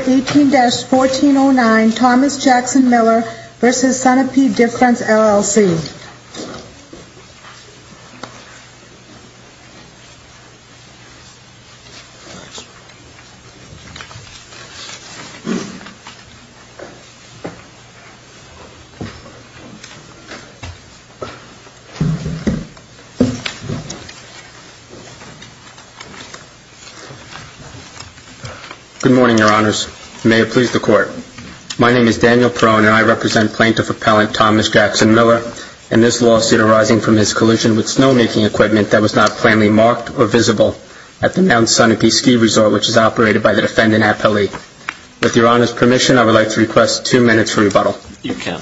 18-1409 Thomas Jackson Miller v. Sunapee Difference, LLC. Good morning, your honors. May it please the court. My name is Daniel Perrone and I represent plaintiff appellant Thomas Jackson Miller and this lawsuit arising from his collision with snowmaking equipment that was not plainly marked or visible at the now Sunapee Ski Resort which is operated by the defendant appellee. With your honors permission I would like to request two minutes for rebuttal. You can.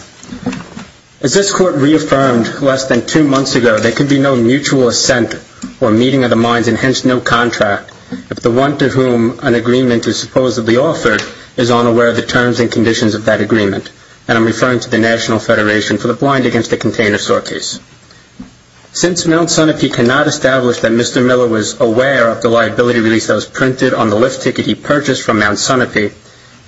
As this court reaffirmed less than two months ago there can be no mutual assent or meeting of the minds and hence no contract if the one to whom an agreement is supposedly offered is unaware of the terms and conditions of that agreement. And I'm referring to the National Federation for the Blind Against a Container Sort Case. Since Mount Sunapee cannot establish that Mr. Miller was aware of the liability release that was printed on the lift ticket he purchased from Mount Sunapee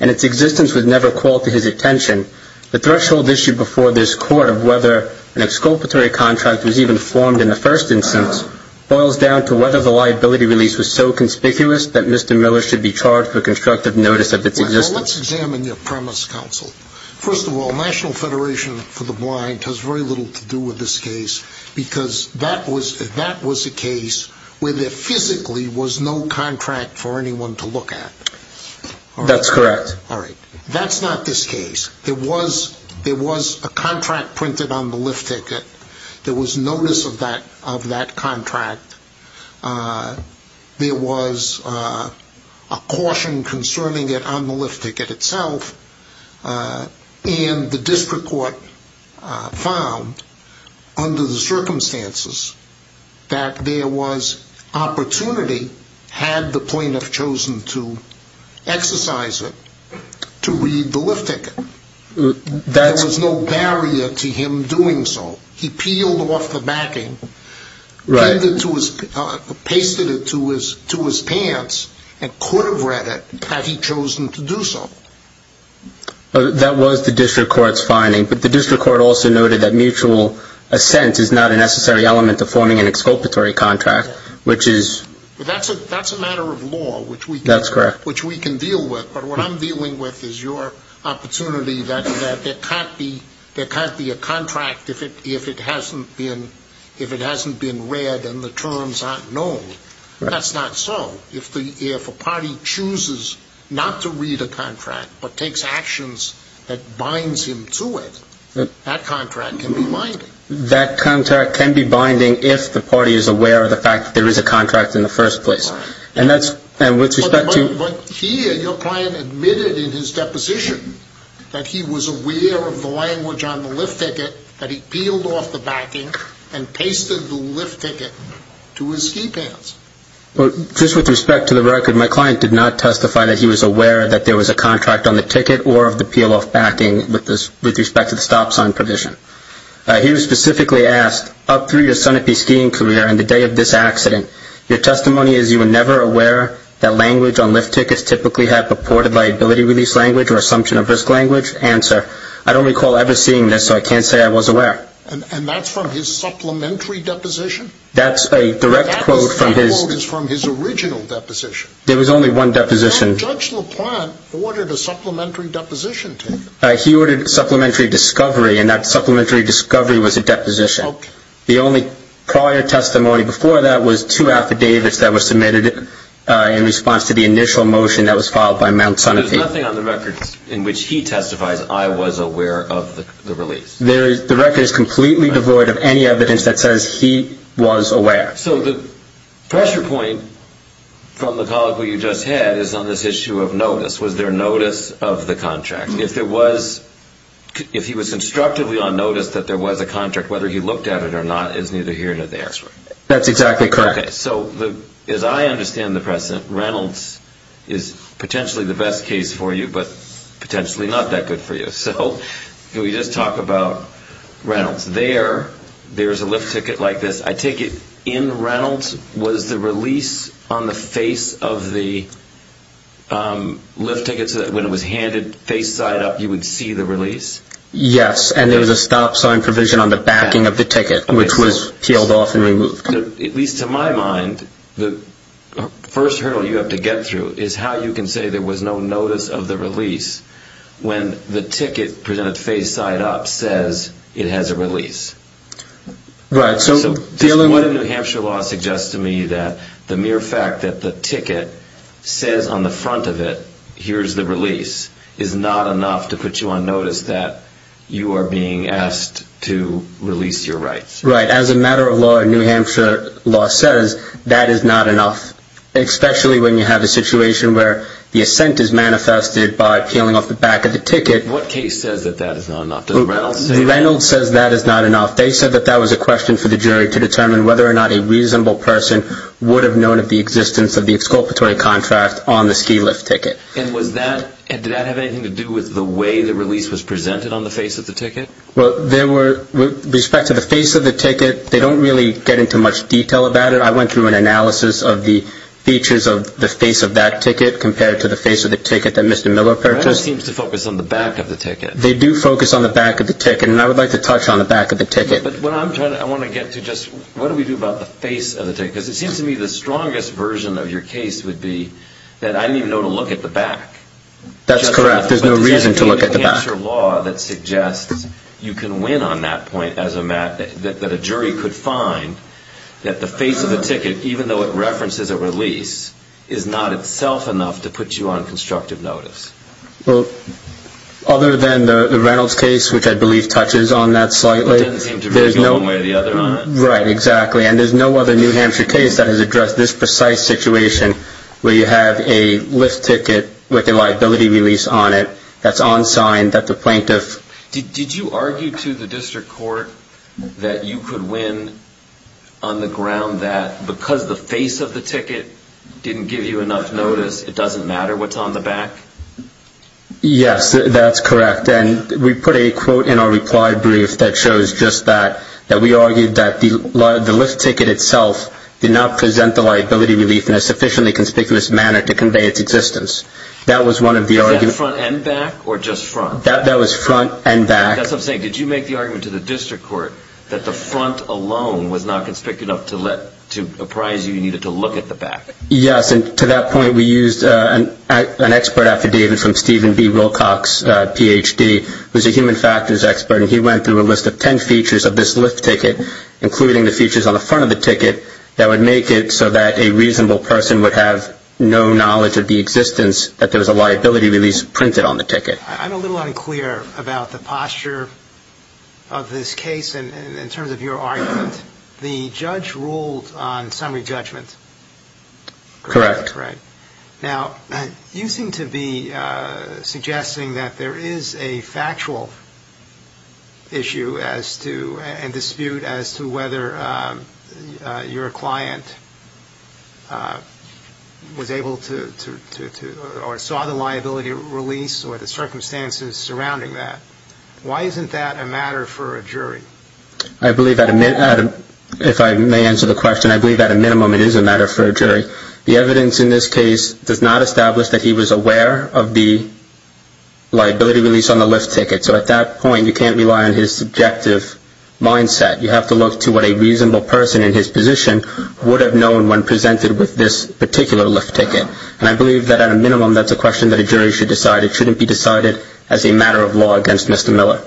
and its existence was never called to his attention, the threshold issue before this court of whether an exculpatory contract was even formed in the first instance boils down to whether the liability release was so conspicuous that Mr. Miller should be charged with constructive notice of its existence. Let's examine your premise counsel. First of all National Federation for the Blind has very little to do with this case because that was a case where there physically was no contract for anyone to look at. That's correct. That's not this case. There was a contract printed on the lift ticket. There was notice of that contract. There was a caution concerning it on the lift ticket itself and the district court found under the circumstances that there was opportunity had the plaintiff chosen to exercise it to read the lift ticket. There was no barrier to him doing so. He peeled off the backing, pasted it to his pants and could have read it had he chosen to do so. That was the district court's finding but the district court also noted that mutual assent is not a necessary element to forming an exculpatory contract which is. That's a matter of law. That's correct. Which we can deal with but what I'm dealing with is your client if it hasn't been read and the terms aren't known. That's not so. If a party chooses not to read a contract but takes actions that binds him to it, that contract can be binding. That contract can be binding if the party is aware of the fact that there is a contract in the first place. But here your client admitted in his deposition that he was aware of the language on the lift ticket that he peeled off the backing and pasted the lift ticket to his ski pants. Just with respect to the record, my client did not testify that he was aware that there was a contract on the ticket or of the peel off backing with respect to the stop sign provision. He was specifically asked, up through your Sunapee skiing career and the day of this accident, your testimony is you were never aware that language on lift tickets typically had purported liability release language or assumption of risk language? I don't recall ever seeing this so I can't say I was aware. And that's from his supplementary deposition? That's a direct quote from his original deposition. There was only one deposition. Judge LaPlante ordered a supplementary deposition. He ordered supplementary discovery and that supplementary discovery was a deposition. The only prior testimony before that was two affidavits that were submitted in response to the initial motion that was filed by Mount Sunapee. There's nothing on the records in which he testifies, I was aware of the release? The record is completely devoid of any evidence that says he was aware. So the pressure point from the colleague we just had is on this issue of notice. Was there notice of the contract? If he was constructively on notice that there was a contract, whether he looked at it or not is neither here nor there. That's exactly correct. Okay, so as I understand the precedent, Reynolds is potentially the best case for you but potentially not that good for you. So can we just talk about Reynolds? There, there's a lift ticket like this. I take it in Reynolds was the release on the face of the lift ticket when it was handed face side up you would see the release? Yes, and there was a stop sign provision on the backing of the ticket which was peeled off and removed. At least to my mind, the first hurdle you have to get through is how you can say there was no notice of the release when the ticket presented face side up says it has a release. Right, so... This one in New Hampshire law suggests to me that the mere fact that the ticket says on the front of it, here's the release, is not enough to put you on notice that you are being asked to release your rights. Right, as a matter of law in New Hampshire law says, that is not enough. Especially when you have a situation where the assent is manifested by peeling off the back of the ticket. What case says that that is not enough? Does Reynolds say that? Reynolds says that is not enough. They said that that was a question for the jury to determine whether or not a reasonable person would have known of the existence of the exculpatory contract on the ski lift ticket. And was that, did that have anything to do with the way the release was presented on the face of the ticket? Well, there were, with respect to the face of the ticket, they don't really get into much detail about it. I went through an analysis of the features of the face of that ticket compared to the face of the ticket that Mr. Miller purchased. Reynolds seems to focus on the back of the ticket. They do focus on the back of the ticket, and I would like to touch on the back of the ticket. But what I'm trying to, I want to get to just, what do we do about the face of the ticket? Because it seems to me the strongest version of your case would be that I didn't even know to look at the back. That's correct, there's no reason to look at the back. There's no New Hampshire law that suggests you can win on that point, that a jury could find that the face of the ticket, even though it references a release, is not itself enough to put you on constructive notice. Well, other than the Reynolds case, which I believe touches on that slightly. It didn't seem to be going one way or the other on it. Right, exactly. And there's no other New Hampshire case that has addressed this precise situation where you have a lift ticket with a liability release on it that's on sign that the plaintiff... Did you argue to the district court that you could win on the ground that because the face of the ticket didn't give you enough notice, it doesn't matter what's on the back? Yes, that's correct. And we put a quote in our reply brief that shows just that, that we argued that the lift ticket itself did not present the liability relief in a sufficiently conspicuous manner to convey its existence. That was one of the arguments... Was that front and back, or just front? That was front and back. That's what I'm saying, did you make the argument to the district court that the front alone was not conspicuous enough to apprise you you needed to look at the back? Yes, and to that point we used an expert affidavit from Stephen B. Wilcox, PhD, who's a human factors expert, and he went through a list of ten features of this lift ticket, including the features on the front of the ticket, that would make it so that a reasonable person would have no knowledge of the existence that there was a liability release printed on the ticket. I'm a little unclear about the posture of this case in terms of your argument. The judge ruled on summary judgment. Correct. Now, you seem to be suggesting that there is a factual issue as to, and dispute, as to whether your client was able to, or saw the liability release, or the circumstances surrounding that. Why isn't that a matter for a jury? I believe that, if I may answer the question, I believe that at a minimum it is a matter for a jury. The evidence in this case does not establish that he was aware of the liability release on the lift ticket, so at that point you can't rely on his subjective mindset. You have to look to what a reasonable person in his position would have known when presented with this particular lift ticket. And I believe that, at a minimum, that's a question that a jury should decide. It shouldn't be decided as a matter of law against Mr. Miller.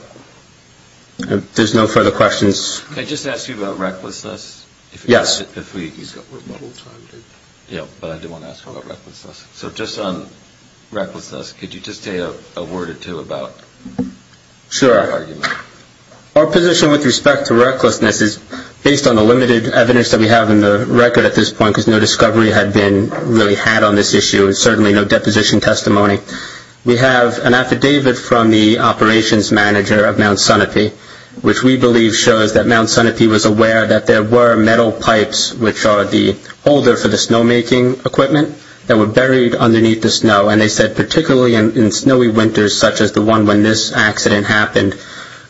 There's no further questions. Can I just ask you about recklessness? Yes. But I do want to ask about recklessness. So just on recklessness, could you just say a word or two about your argument? Sure. Our position with respect to recklessness is, based on the limited evidence that we have in the record at this point, because no discovery had been really had on this issue, and certainly no deposition testimony, we have an affidavit from the operations manager of Mount Sonope, which we believe shows that Mount Sonope was aware that there were metal pipes, which are the holder for the snowmaking equipment, that were buried underneath the snow. And they said, particularly in snowy winters, such as the one when this accident happened,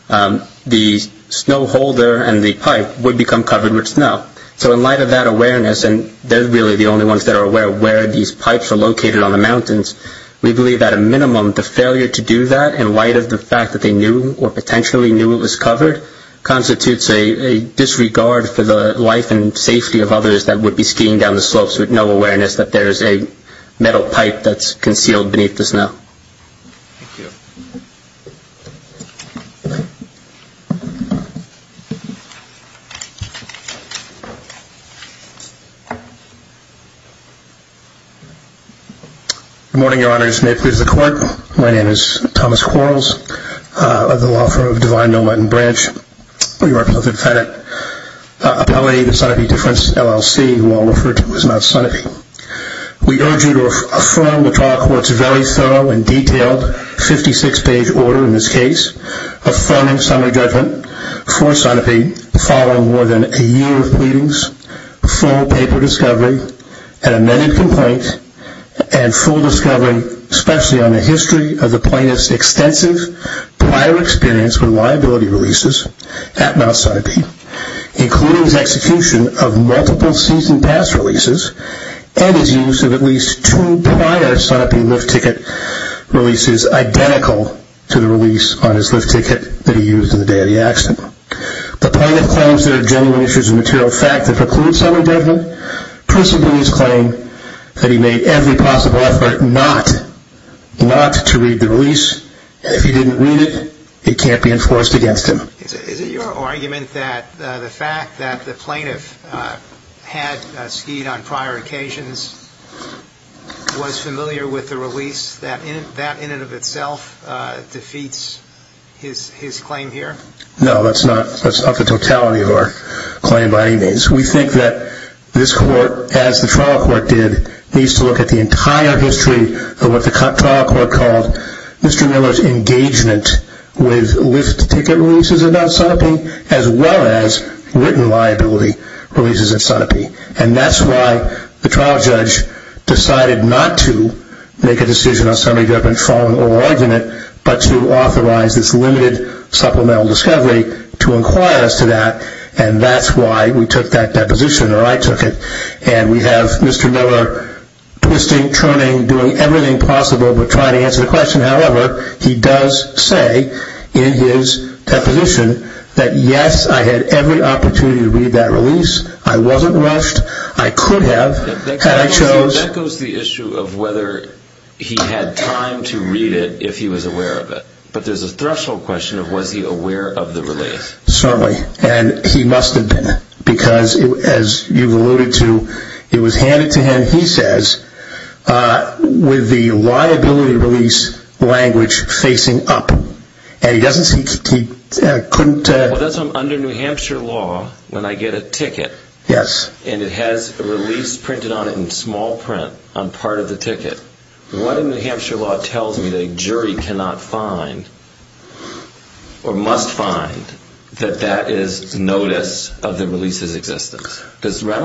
the snow holder and the pipe would become covered with snow. So in light of that awareness, and they're really the only ones that are aware of where these pipes are located on the mountains, we believe, at a minimum, the failure to do that, in light of the fact that they knew or potentially knew it was covered, constitutes a disregard for the life and safety of others that would be skiing down the slopes with no awareness that there is a metal pipe that's concealed beneath the snow. Thank you. Good morning, your honors. May it please the court. My name is Thomas Quarles. I'm the law firm of Divine Noment & Branch. We represent the defendant, Appelli, the Sonope Difference LLC, who I'll refer to as Mount Sonope. We urge you to affirm the trial court's very case, affirming summary judgment for Sonope, following more than a year of pleadings, full paper discovery, an amended complaint, and full discovery, especially on the history of the plaintiff's extensive prior experience with liability releases at Mount Sonope, including his execution of multiple season pass releases, and his use of at least two prior Sonope lift ticket releases identical to the release on his lift ticket that he used on the day of the accident. The plaintiff claims there are genuine issues of material fact that preclude summary judgment. Pursuant to his claim, that he made every possible effort not to read the release, and if he didn't read it, it can't be enforced against him. Is it your argument that the fact that the plaintiff had skied on prior occasions, was familiar with the release, that in and of itself defeats his claim here? No, that's not. That's not the totality of our claim by any means. We think that this court, as the trial court did, needs to look at the entire history of what the trial court called Mr. Miller's engagement with lift ticket releases at Mount Sonope, as well as written liability releases at Sonope. And that's why the trial judge decided not to make a decision on summary judgment following oral argument, but to authorize this limited supplemental discovery to inquire as to that, and that's why we took that position, or I However, he does say in his deposition that yes, I had every opportunity to read that release, I wasn't rushed, I could have, and I chose. That goes to the issue of whether he had time to read it if he was aware of it. But there's a threshold question of was he aware of the release. Certainly, and he must have been, because as you've alluded to, it was handed to him, and he says, with the liability release language facing up, and he doesn't see, he couldn't Well, that's under New Hampshire law, when I get a ticket, and it has a release printed on it in small print on part of the ticket, what in New Hampshire law tells me that a jury cannot find, or must find, that that is notice of the release's existence? Does that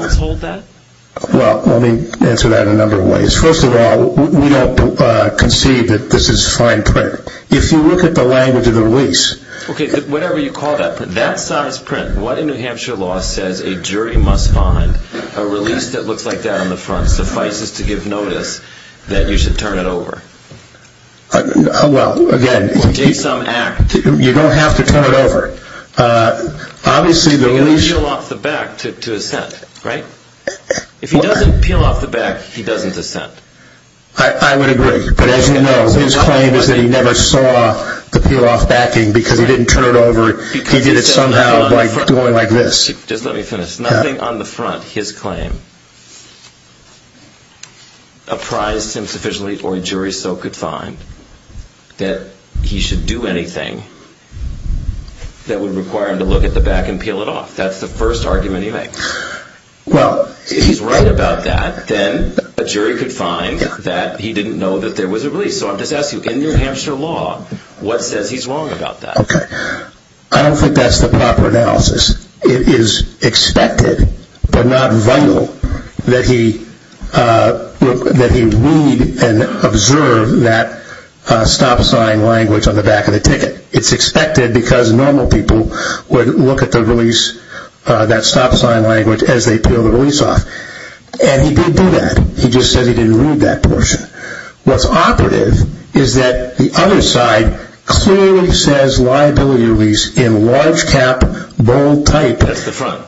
answer that in a number of ways? First of all, we don't conceive that this is fine print. If you look at the language of the release Okay, whatever you call that, that size print, what in New Hampshire law says a jury must find a release that looks like that on the front, suffices to give notice that you should turn it over? Well, again Or take some act You don't have to turn it over. Obviously the release He doesn't peel off the back to assent, right? If he doesn't peel off the back, he doesn't assent. I would agree, but as you know, his claim is that he never saw the peel off backing because he didn't turn it over, he did it somehow by going like this Just let me finish. Nothing on the front, his claim, apprised him sufficiently or a jury so could find that he should do anything that would require him to look at the back and peel it off. That's the first argument he makes. Well If he's right about that, then a jury could find that he didn't know that there was a release. So I'm just asking, in New Hampshire law, what says he's wrong about that? Okay, I don't think that's the proper analysis. It is expected, but not vital, that he read and observe that stop sign language on the back of the ticket. It's expected because normal people would look at the release, that stop sign language, as they peel the release off. And he didn't do that. He just said he didn't read that portion. What's operative is that the other side clearly says liability release in large cap, bold type That's the front.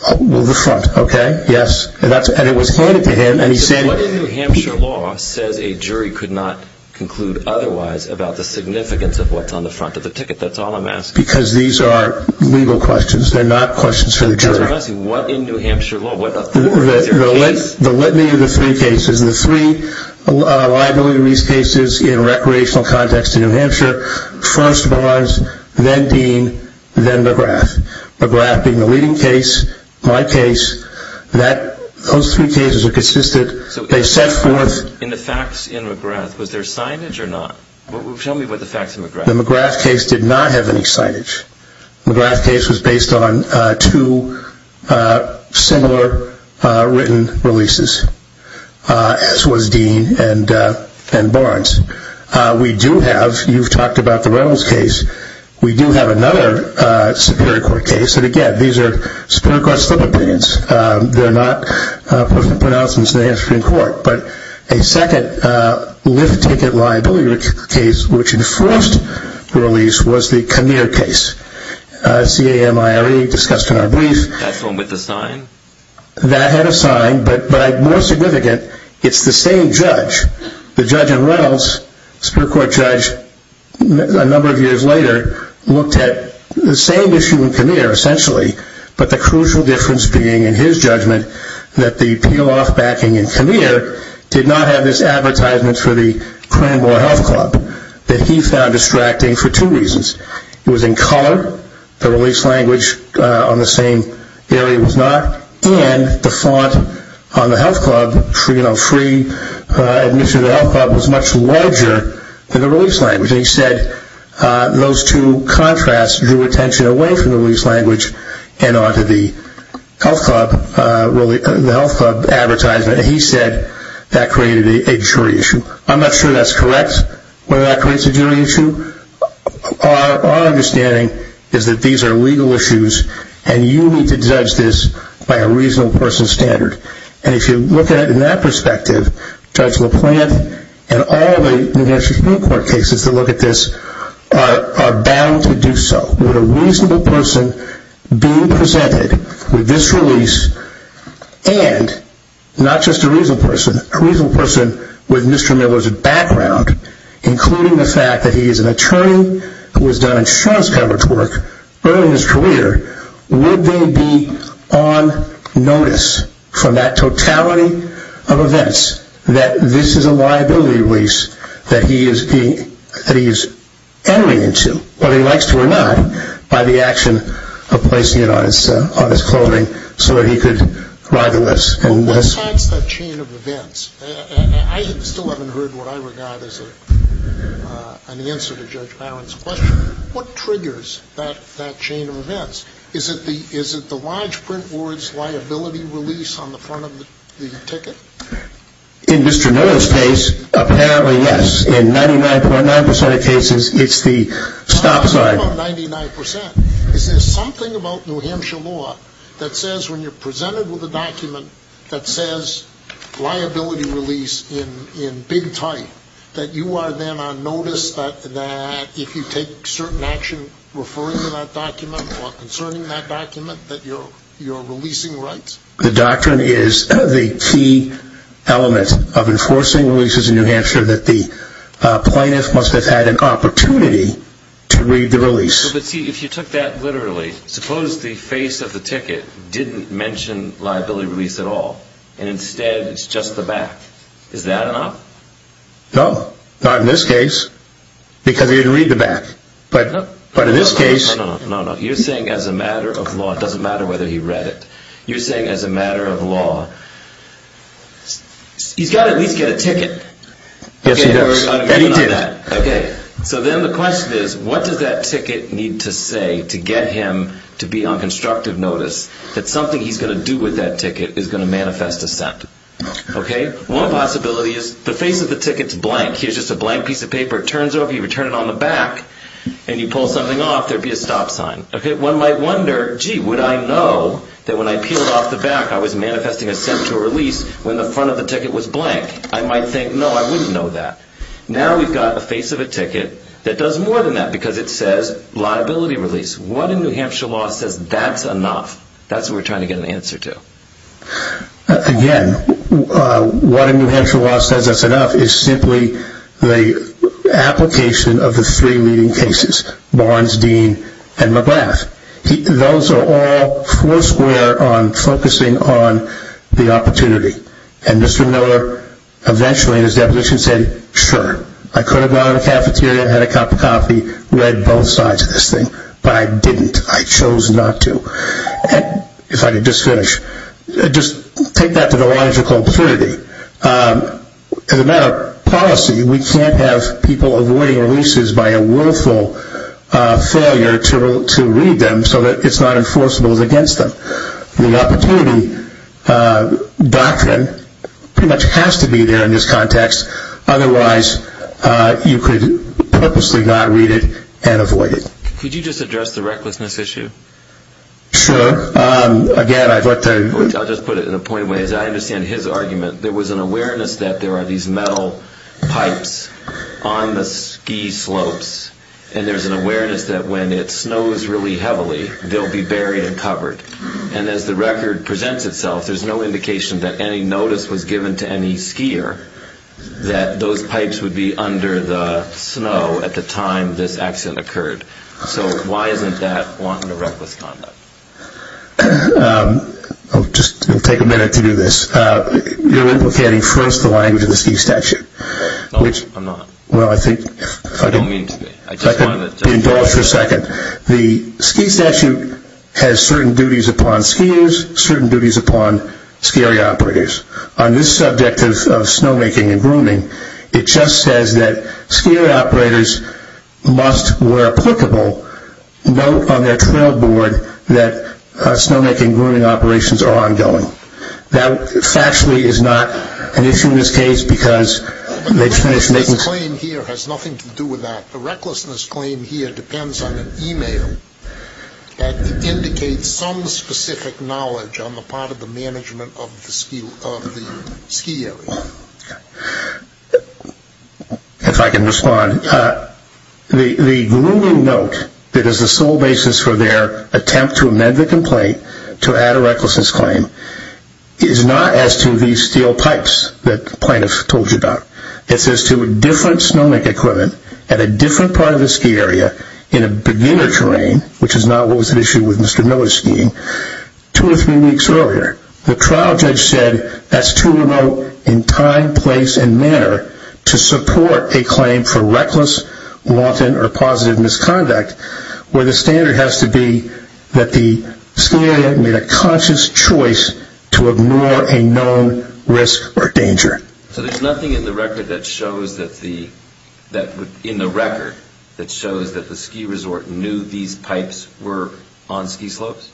The front, okay, yes. And it was pointed to him and he said What in New Hampshire law says a jury could not conclude otherwise about the significance of what's on the front of the ticket? That's all I'm asking. Because these are legal questions. They're not questions for the jury. I'm just asking, what in New Hampshire law? The litany of the three cases. The three liability release cases in a recreational context in New Hampshire. First Barnes, then Dean, then McGrath. McGrath being the leading case, my case. Those three cases are consistent. They set forth In the facts in McGrath, was there signage or not? Tell me about the facts in McGrath. The McGrath case did not have any signage. The McGrath case was based on two similar written releases, as was Dean and Barnes. We do have, you've talked about the Reynolds case, we do have another Superior Court case. And again, these are Superior Court sub-opinions. They're not pronouncements in the Hampshire Supreme Court. But a second lift ticket liability case, which enforced the release, was the Kinnear case. C-A-M-I-R-E discussed in our brief. That's the one with the sign? That had a sign, but more significant, it's the same judge. The judge in Reynolds, Superior Court judge, a number of years later, looked at the same issue in Kinnear, essentially, but the crucial difference being, in his judgment, that the peel-off backing in Kinnear did not have this advertisement for the Cranbois Health Club that he found distracting for two reasons. It was in color, the release language on the same area was not, and the font on the health club, free admission to the health club, was much larger than the release language, and onto the health club advertisement, and he said that created a jury issue. I'm not sure that's correct, whether that creates a jury issue. Our understanding is that these are legal issues, and you need to judge this by a reasonable person's standard. And if you look at it in that perspective, Judge LaPlante and all the New Hampshire Supreme Court cases that look at this are bound to do so. With a reasonable person being presented with this release, and not just a reasonable person, a reasonable person with Mr. Miller's background, including the fact that he is an attorney who has done insurance coverage work early in his career, would they be on notice from that totality of events that this is a liability release that he is entering into, whether he likes to or not, by the action of placing it on his clothing so that he could ride the list? Well, what starts that chain of events? I still haven't heard what I regard as an answer to Judge Barron's question. What triggers that chain of events? Is it the lodge print release on the front of the ticket? In Mr. Miller's case, apparently, yes. In 99.9% of cases, it's the stop sign. How about 99%? Is there something about New Hampshire law that says when you're presented with a document that says liability release in big type, that you are then on notice that if you take certain action referring to that document or concerning that document, that you're releasing rights? The doctrine is the key element of enforcing releases in New Hampshire that the plaintiff must have had an opportunity to read the release. But see, if you took that literally, suppose the face of the ticket didn't mention liability release at all, and instead it's just the back. Is that an op? No. Not in this case, because he didn't read the back. But in this case... No, no, no. You're saying as a matter of law, it doesn't matter whether he read it. You're saying as a matter of law, he's got to at least get a ticket? Yes, he does. And he did. Okay. So then the question is, what does that ticket need to say to get him to be on constructive notice that something he's going to do with that ticket is going to manifest a scent? Okay? One possibility is the face of the ticket's blank. Here's just a blank piece of paper. It turns over, you turn it on the back, and you pull something off, there would be a stop sign. Okay? One might wonder, gee, would I know that when I peeled off the back, I was manifesting a scent to a release when the front of the ticket was blank? I might think, no, I wouldn't know that. Now we've got a face of a ticket that does more than that because it says liability release. What in New Hampshire law says that's enough? That's what we're trying to get an answer to. Again, what in New Hampshire law says that's enough is simply the application of the three leading cases, Barnes, Dean, and McGrath. Those are all foursquare on focusing on the opportunity. And Mr. Miller eventually in his deposition said, sure, I could have gone to the cafeteria, had a cup of coffee, read both sides of this thing, but I didn't. I chose not to. If I could just finish, just take that to the logical purity. As a matter of policy, we can't have people avoiding releases by a willful failure to read them so that it's not enforceable against them. The opportunity doctrine pretty much has to be there in this context, otherwise you could purposely not read it and avoid it. Could you just address the recklessness issue? Sure. Again, I thought that I'll just put it in a pointed way. I understand his argument. There was an awareness that there are these metal pipes on the ski slopes, and there's an awareness that when it snows really heavily, they'll be buried and covered. And as the record presents itself, there's no indication that any notice was given to any skier that those pipes would be under the snow at the time this accident occurred. So why isn't that wanting a reckless conduct? I'll just take a minute to do this. You're implicating first the language of the ski statute. No, I'm not. Well, I think I don't mean to be. I just wanted to Indulge for a second. The ski statute has certain duties upon skiers, certain duties upon ski operators. On this subject of snowmaking and grooming, it just says that skier operators must, where applicable, note on their trail board that snowmaking and grooming operations are ongoing. That factually is not an issue in this case because The recklessness claim here has nothing to do with that. The recklessness claim here depends on an email that indicates some specific knowledge on the part of the management of the ski area. If I can respond, the grooming note that is the sole basis for their attempt to amend the complaint to add a recklessness claim is not as to these steel pipes that the plaintiff told you about. It's as to a different snowmaking equipment at a different part of the ski area in a beginner terrain, which is not what was at issue with Mr. Miller's skiing, two or three weeks earlier. The trial judge said that's too remote in time, place, and manner to support a claim for reckless, wanton, or positive misconduct where the standard has to be that the ski area made a conscious choice So there's nothing in the record that shows that the ski resort knew these pipes were on ski slopes?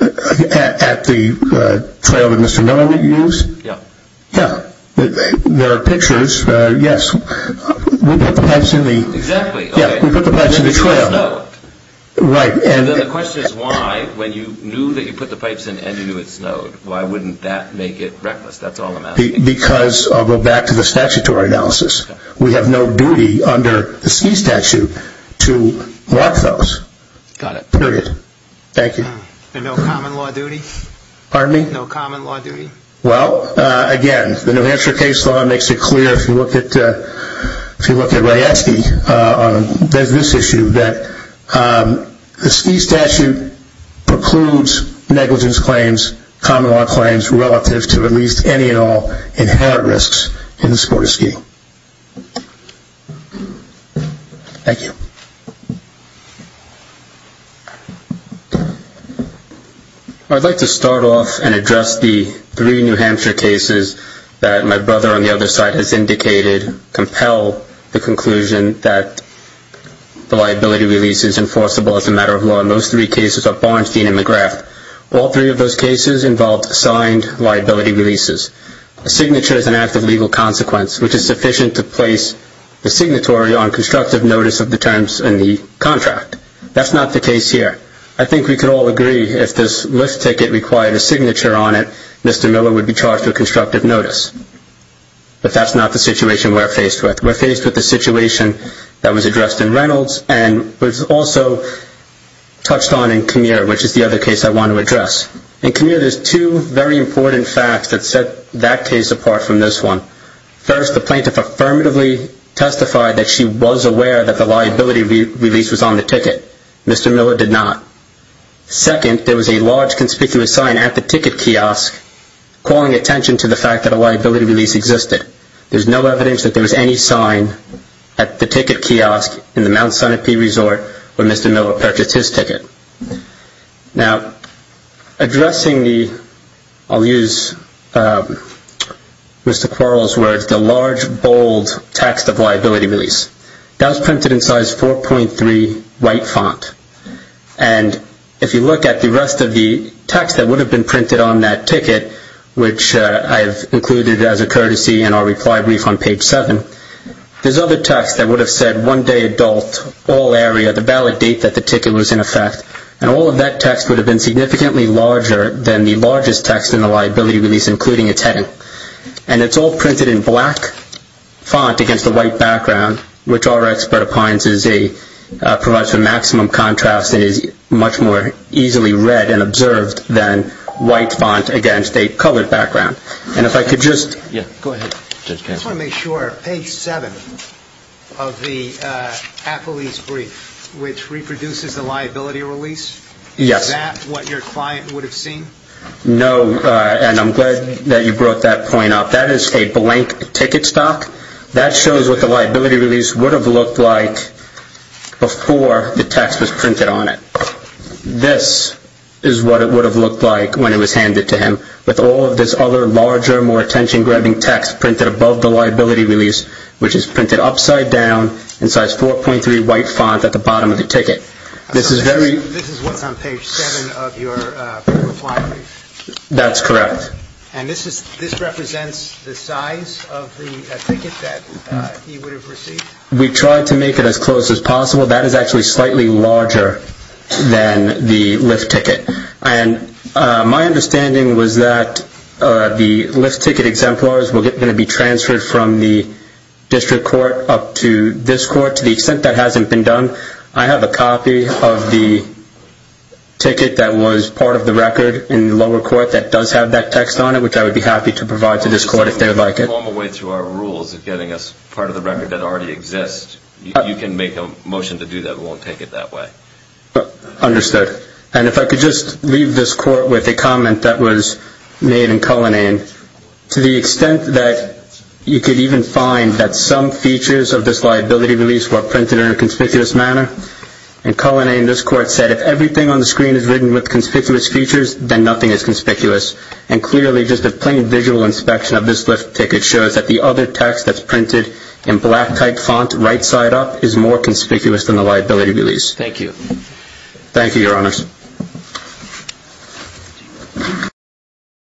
At the trail that Mr. Miller used? Yeah. Yeah, there are pictures. Yes, we put the pipes in the trail. Right. And then the question is why, when you knew that you put the pipes in and you knew it snowed, why wouldn't that make it reckless? That's all I'm asking. Because, I'll go back to the statutory analysis, we have no duty under the ski statute to mark those. Got it. Period. Thank you. And no common law duty? Pardon me? No common law duty? Well, again, the New Hampshire case law makes it clear, if you look at Ray Esky on this issue, that the ski statute precludes negligence claims, common law claims, relative to at least any and all inherent risks in the sport of skiing. Thank you. I'd like to start off and address the three New Hampshire cases that my brother on the other side has indicated compel the conclusion that the liability release is enforceable as a matter of law, and those three cases are Barnstein and McGrath. All three of those cases involved signed liability releases. A signature is an act of legal consequence, which is sufficient to place the signatory on constructive notice of the terms in the contract. That's not the case here. I think we could all agree, if this lift ticket required a signature on it, Mr. Miller would be charged with constructive notice. But that's not the situation we're faced with. We're faced with the situation that was addressed in Reynolds, and was also touched on in Comir, which is the other case I want to address. In Comir, there's two very important facts that set that case apart from this one. First, the plaintiff affirmatively testified that she was aware that the liability release was on the ticket. Mr. Miller did not. Second, there was a large conspicuous sign at the ticket kiosk calling attention to the fact that a liability release existed. There's no evidence that there was any sign at the ticket kiosk in the Mt. I'll use Mr. Quarles' words, the large, bold text of liability release. That was printed in size 4.3 white font. And if you look at the rest of the text that would have been printed on that ticket, which I have included as a courtesy in our reply brief on page 7, there's other text that would have said one day adult, all area, the valid date that the ticket was in effect. And all of that text would have been significantly larger than the largest text in the liability release, including its heading. And it's all printed in black font against a white background, which our expert opines provides for maximum contrast and is much more easily read and observed than white font against a colored background. And if I could just go ahead. I just want to make sure, page 7 of the affilies brief, which reproduces the liability release? Yes. Is that what your client would have seen? No, and I'm glad that you brought that point up. That is a blank ticket stock. That shows what the liability release would have looked like before the text was printed on it. This is what it would have looked like when it was handed to him. With all of this other larger, more attention-grabbing text printed above the liability release, which is printed upside down in size 4.3 white font at the bottom of the ticket. This is what's on page 7 of your reply brief? That's correct. And this represents the size of the ticket that he would have received? We tried to make it as close as possible. That is actually slightly larger than the lift ticket. My understanding was that the lift ticket exemplars were going to be transferred from the district court up to this court. To the extent that hasn't been done, I have a copy of the ticket that was part of the record in the lower court that does have that text on it, which I would be happy to provide to this court if they would like it. Along the way through our rules of getting us part of the record that already exists, you can make a motion to do that. We won't take it that way. Understood. And if I could just leave this court with a comment that was made in Cullinane. To the extent that you could even find that some features of this liability release were printed in a conspicuous manner, in Cullinane, this court said, if everything on the screen is written with conspicuous features, then nothing is conspicuous. And clearly, just a plain visual inspection of this lift ticket shows that the other text that's printed in black-type font, right-side up, is more conspicuous than the liability release. Thank you. Thank you, Your Honors.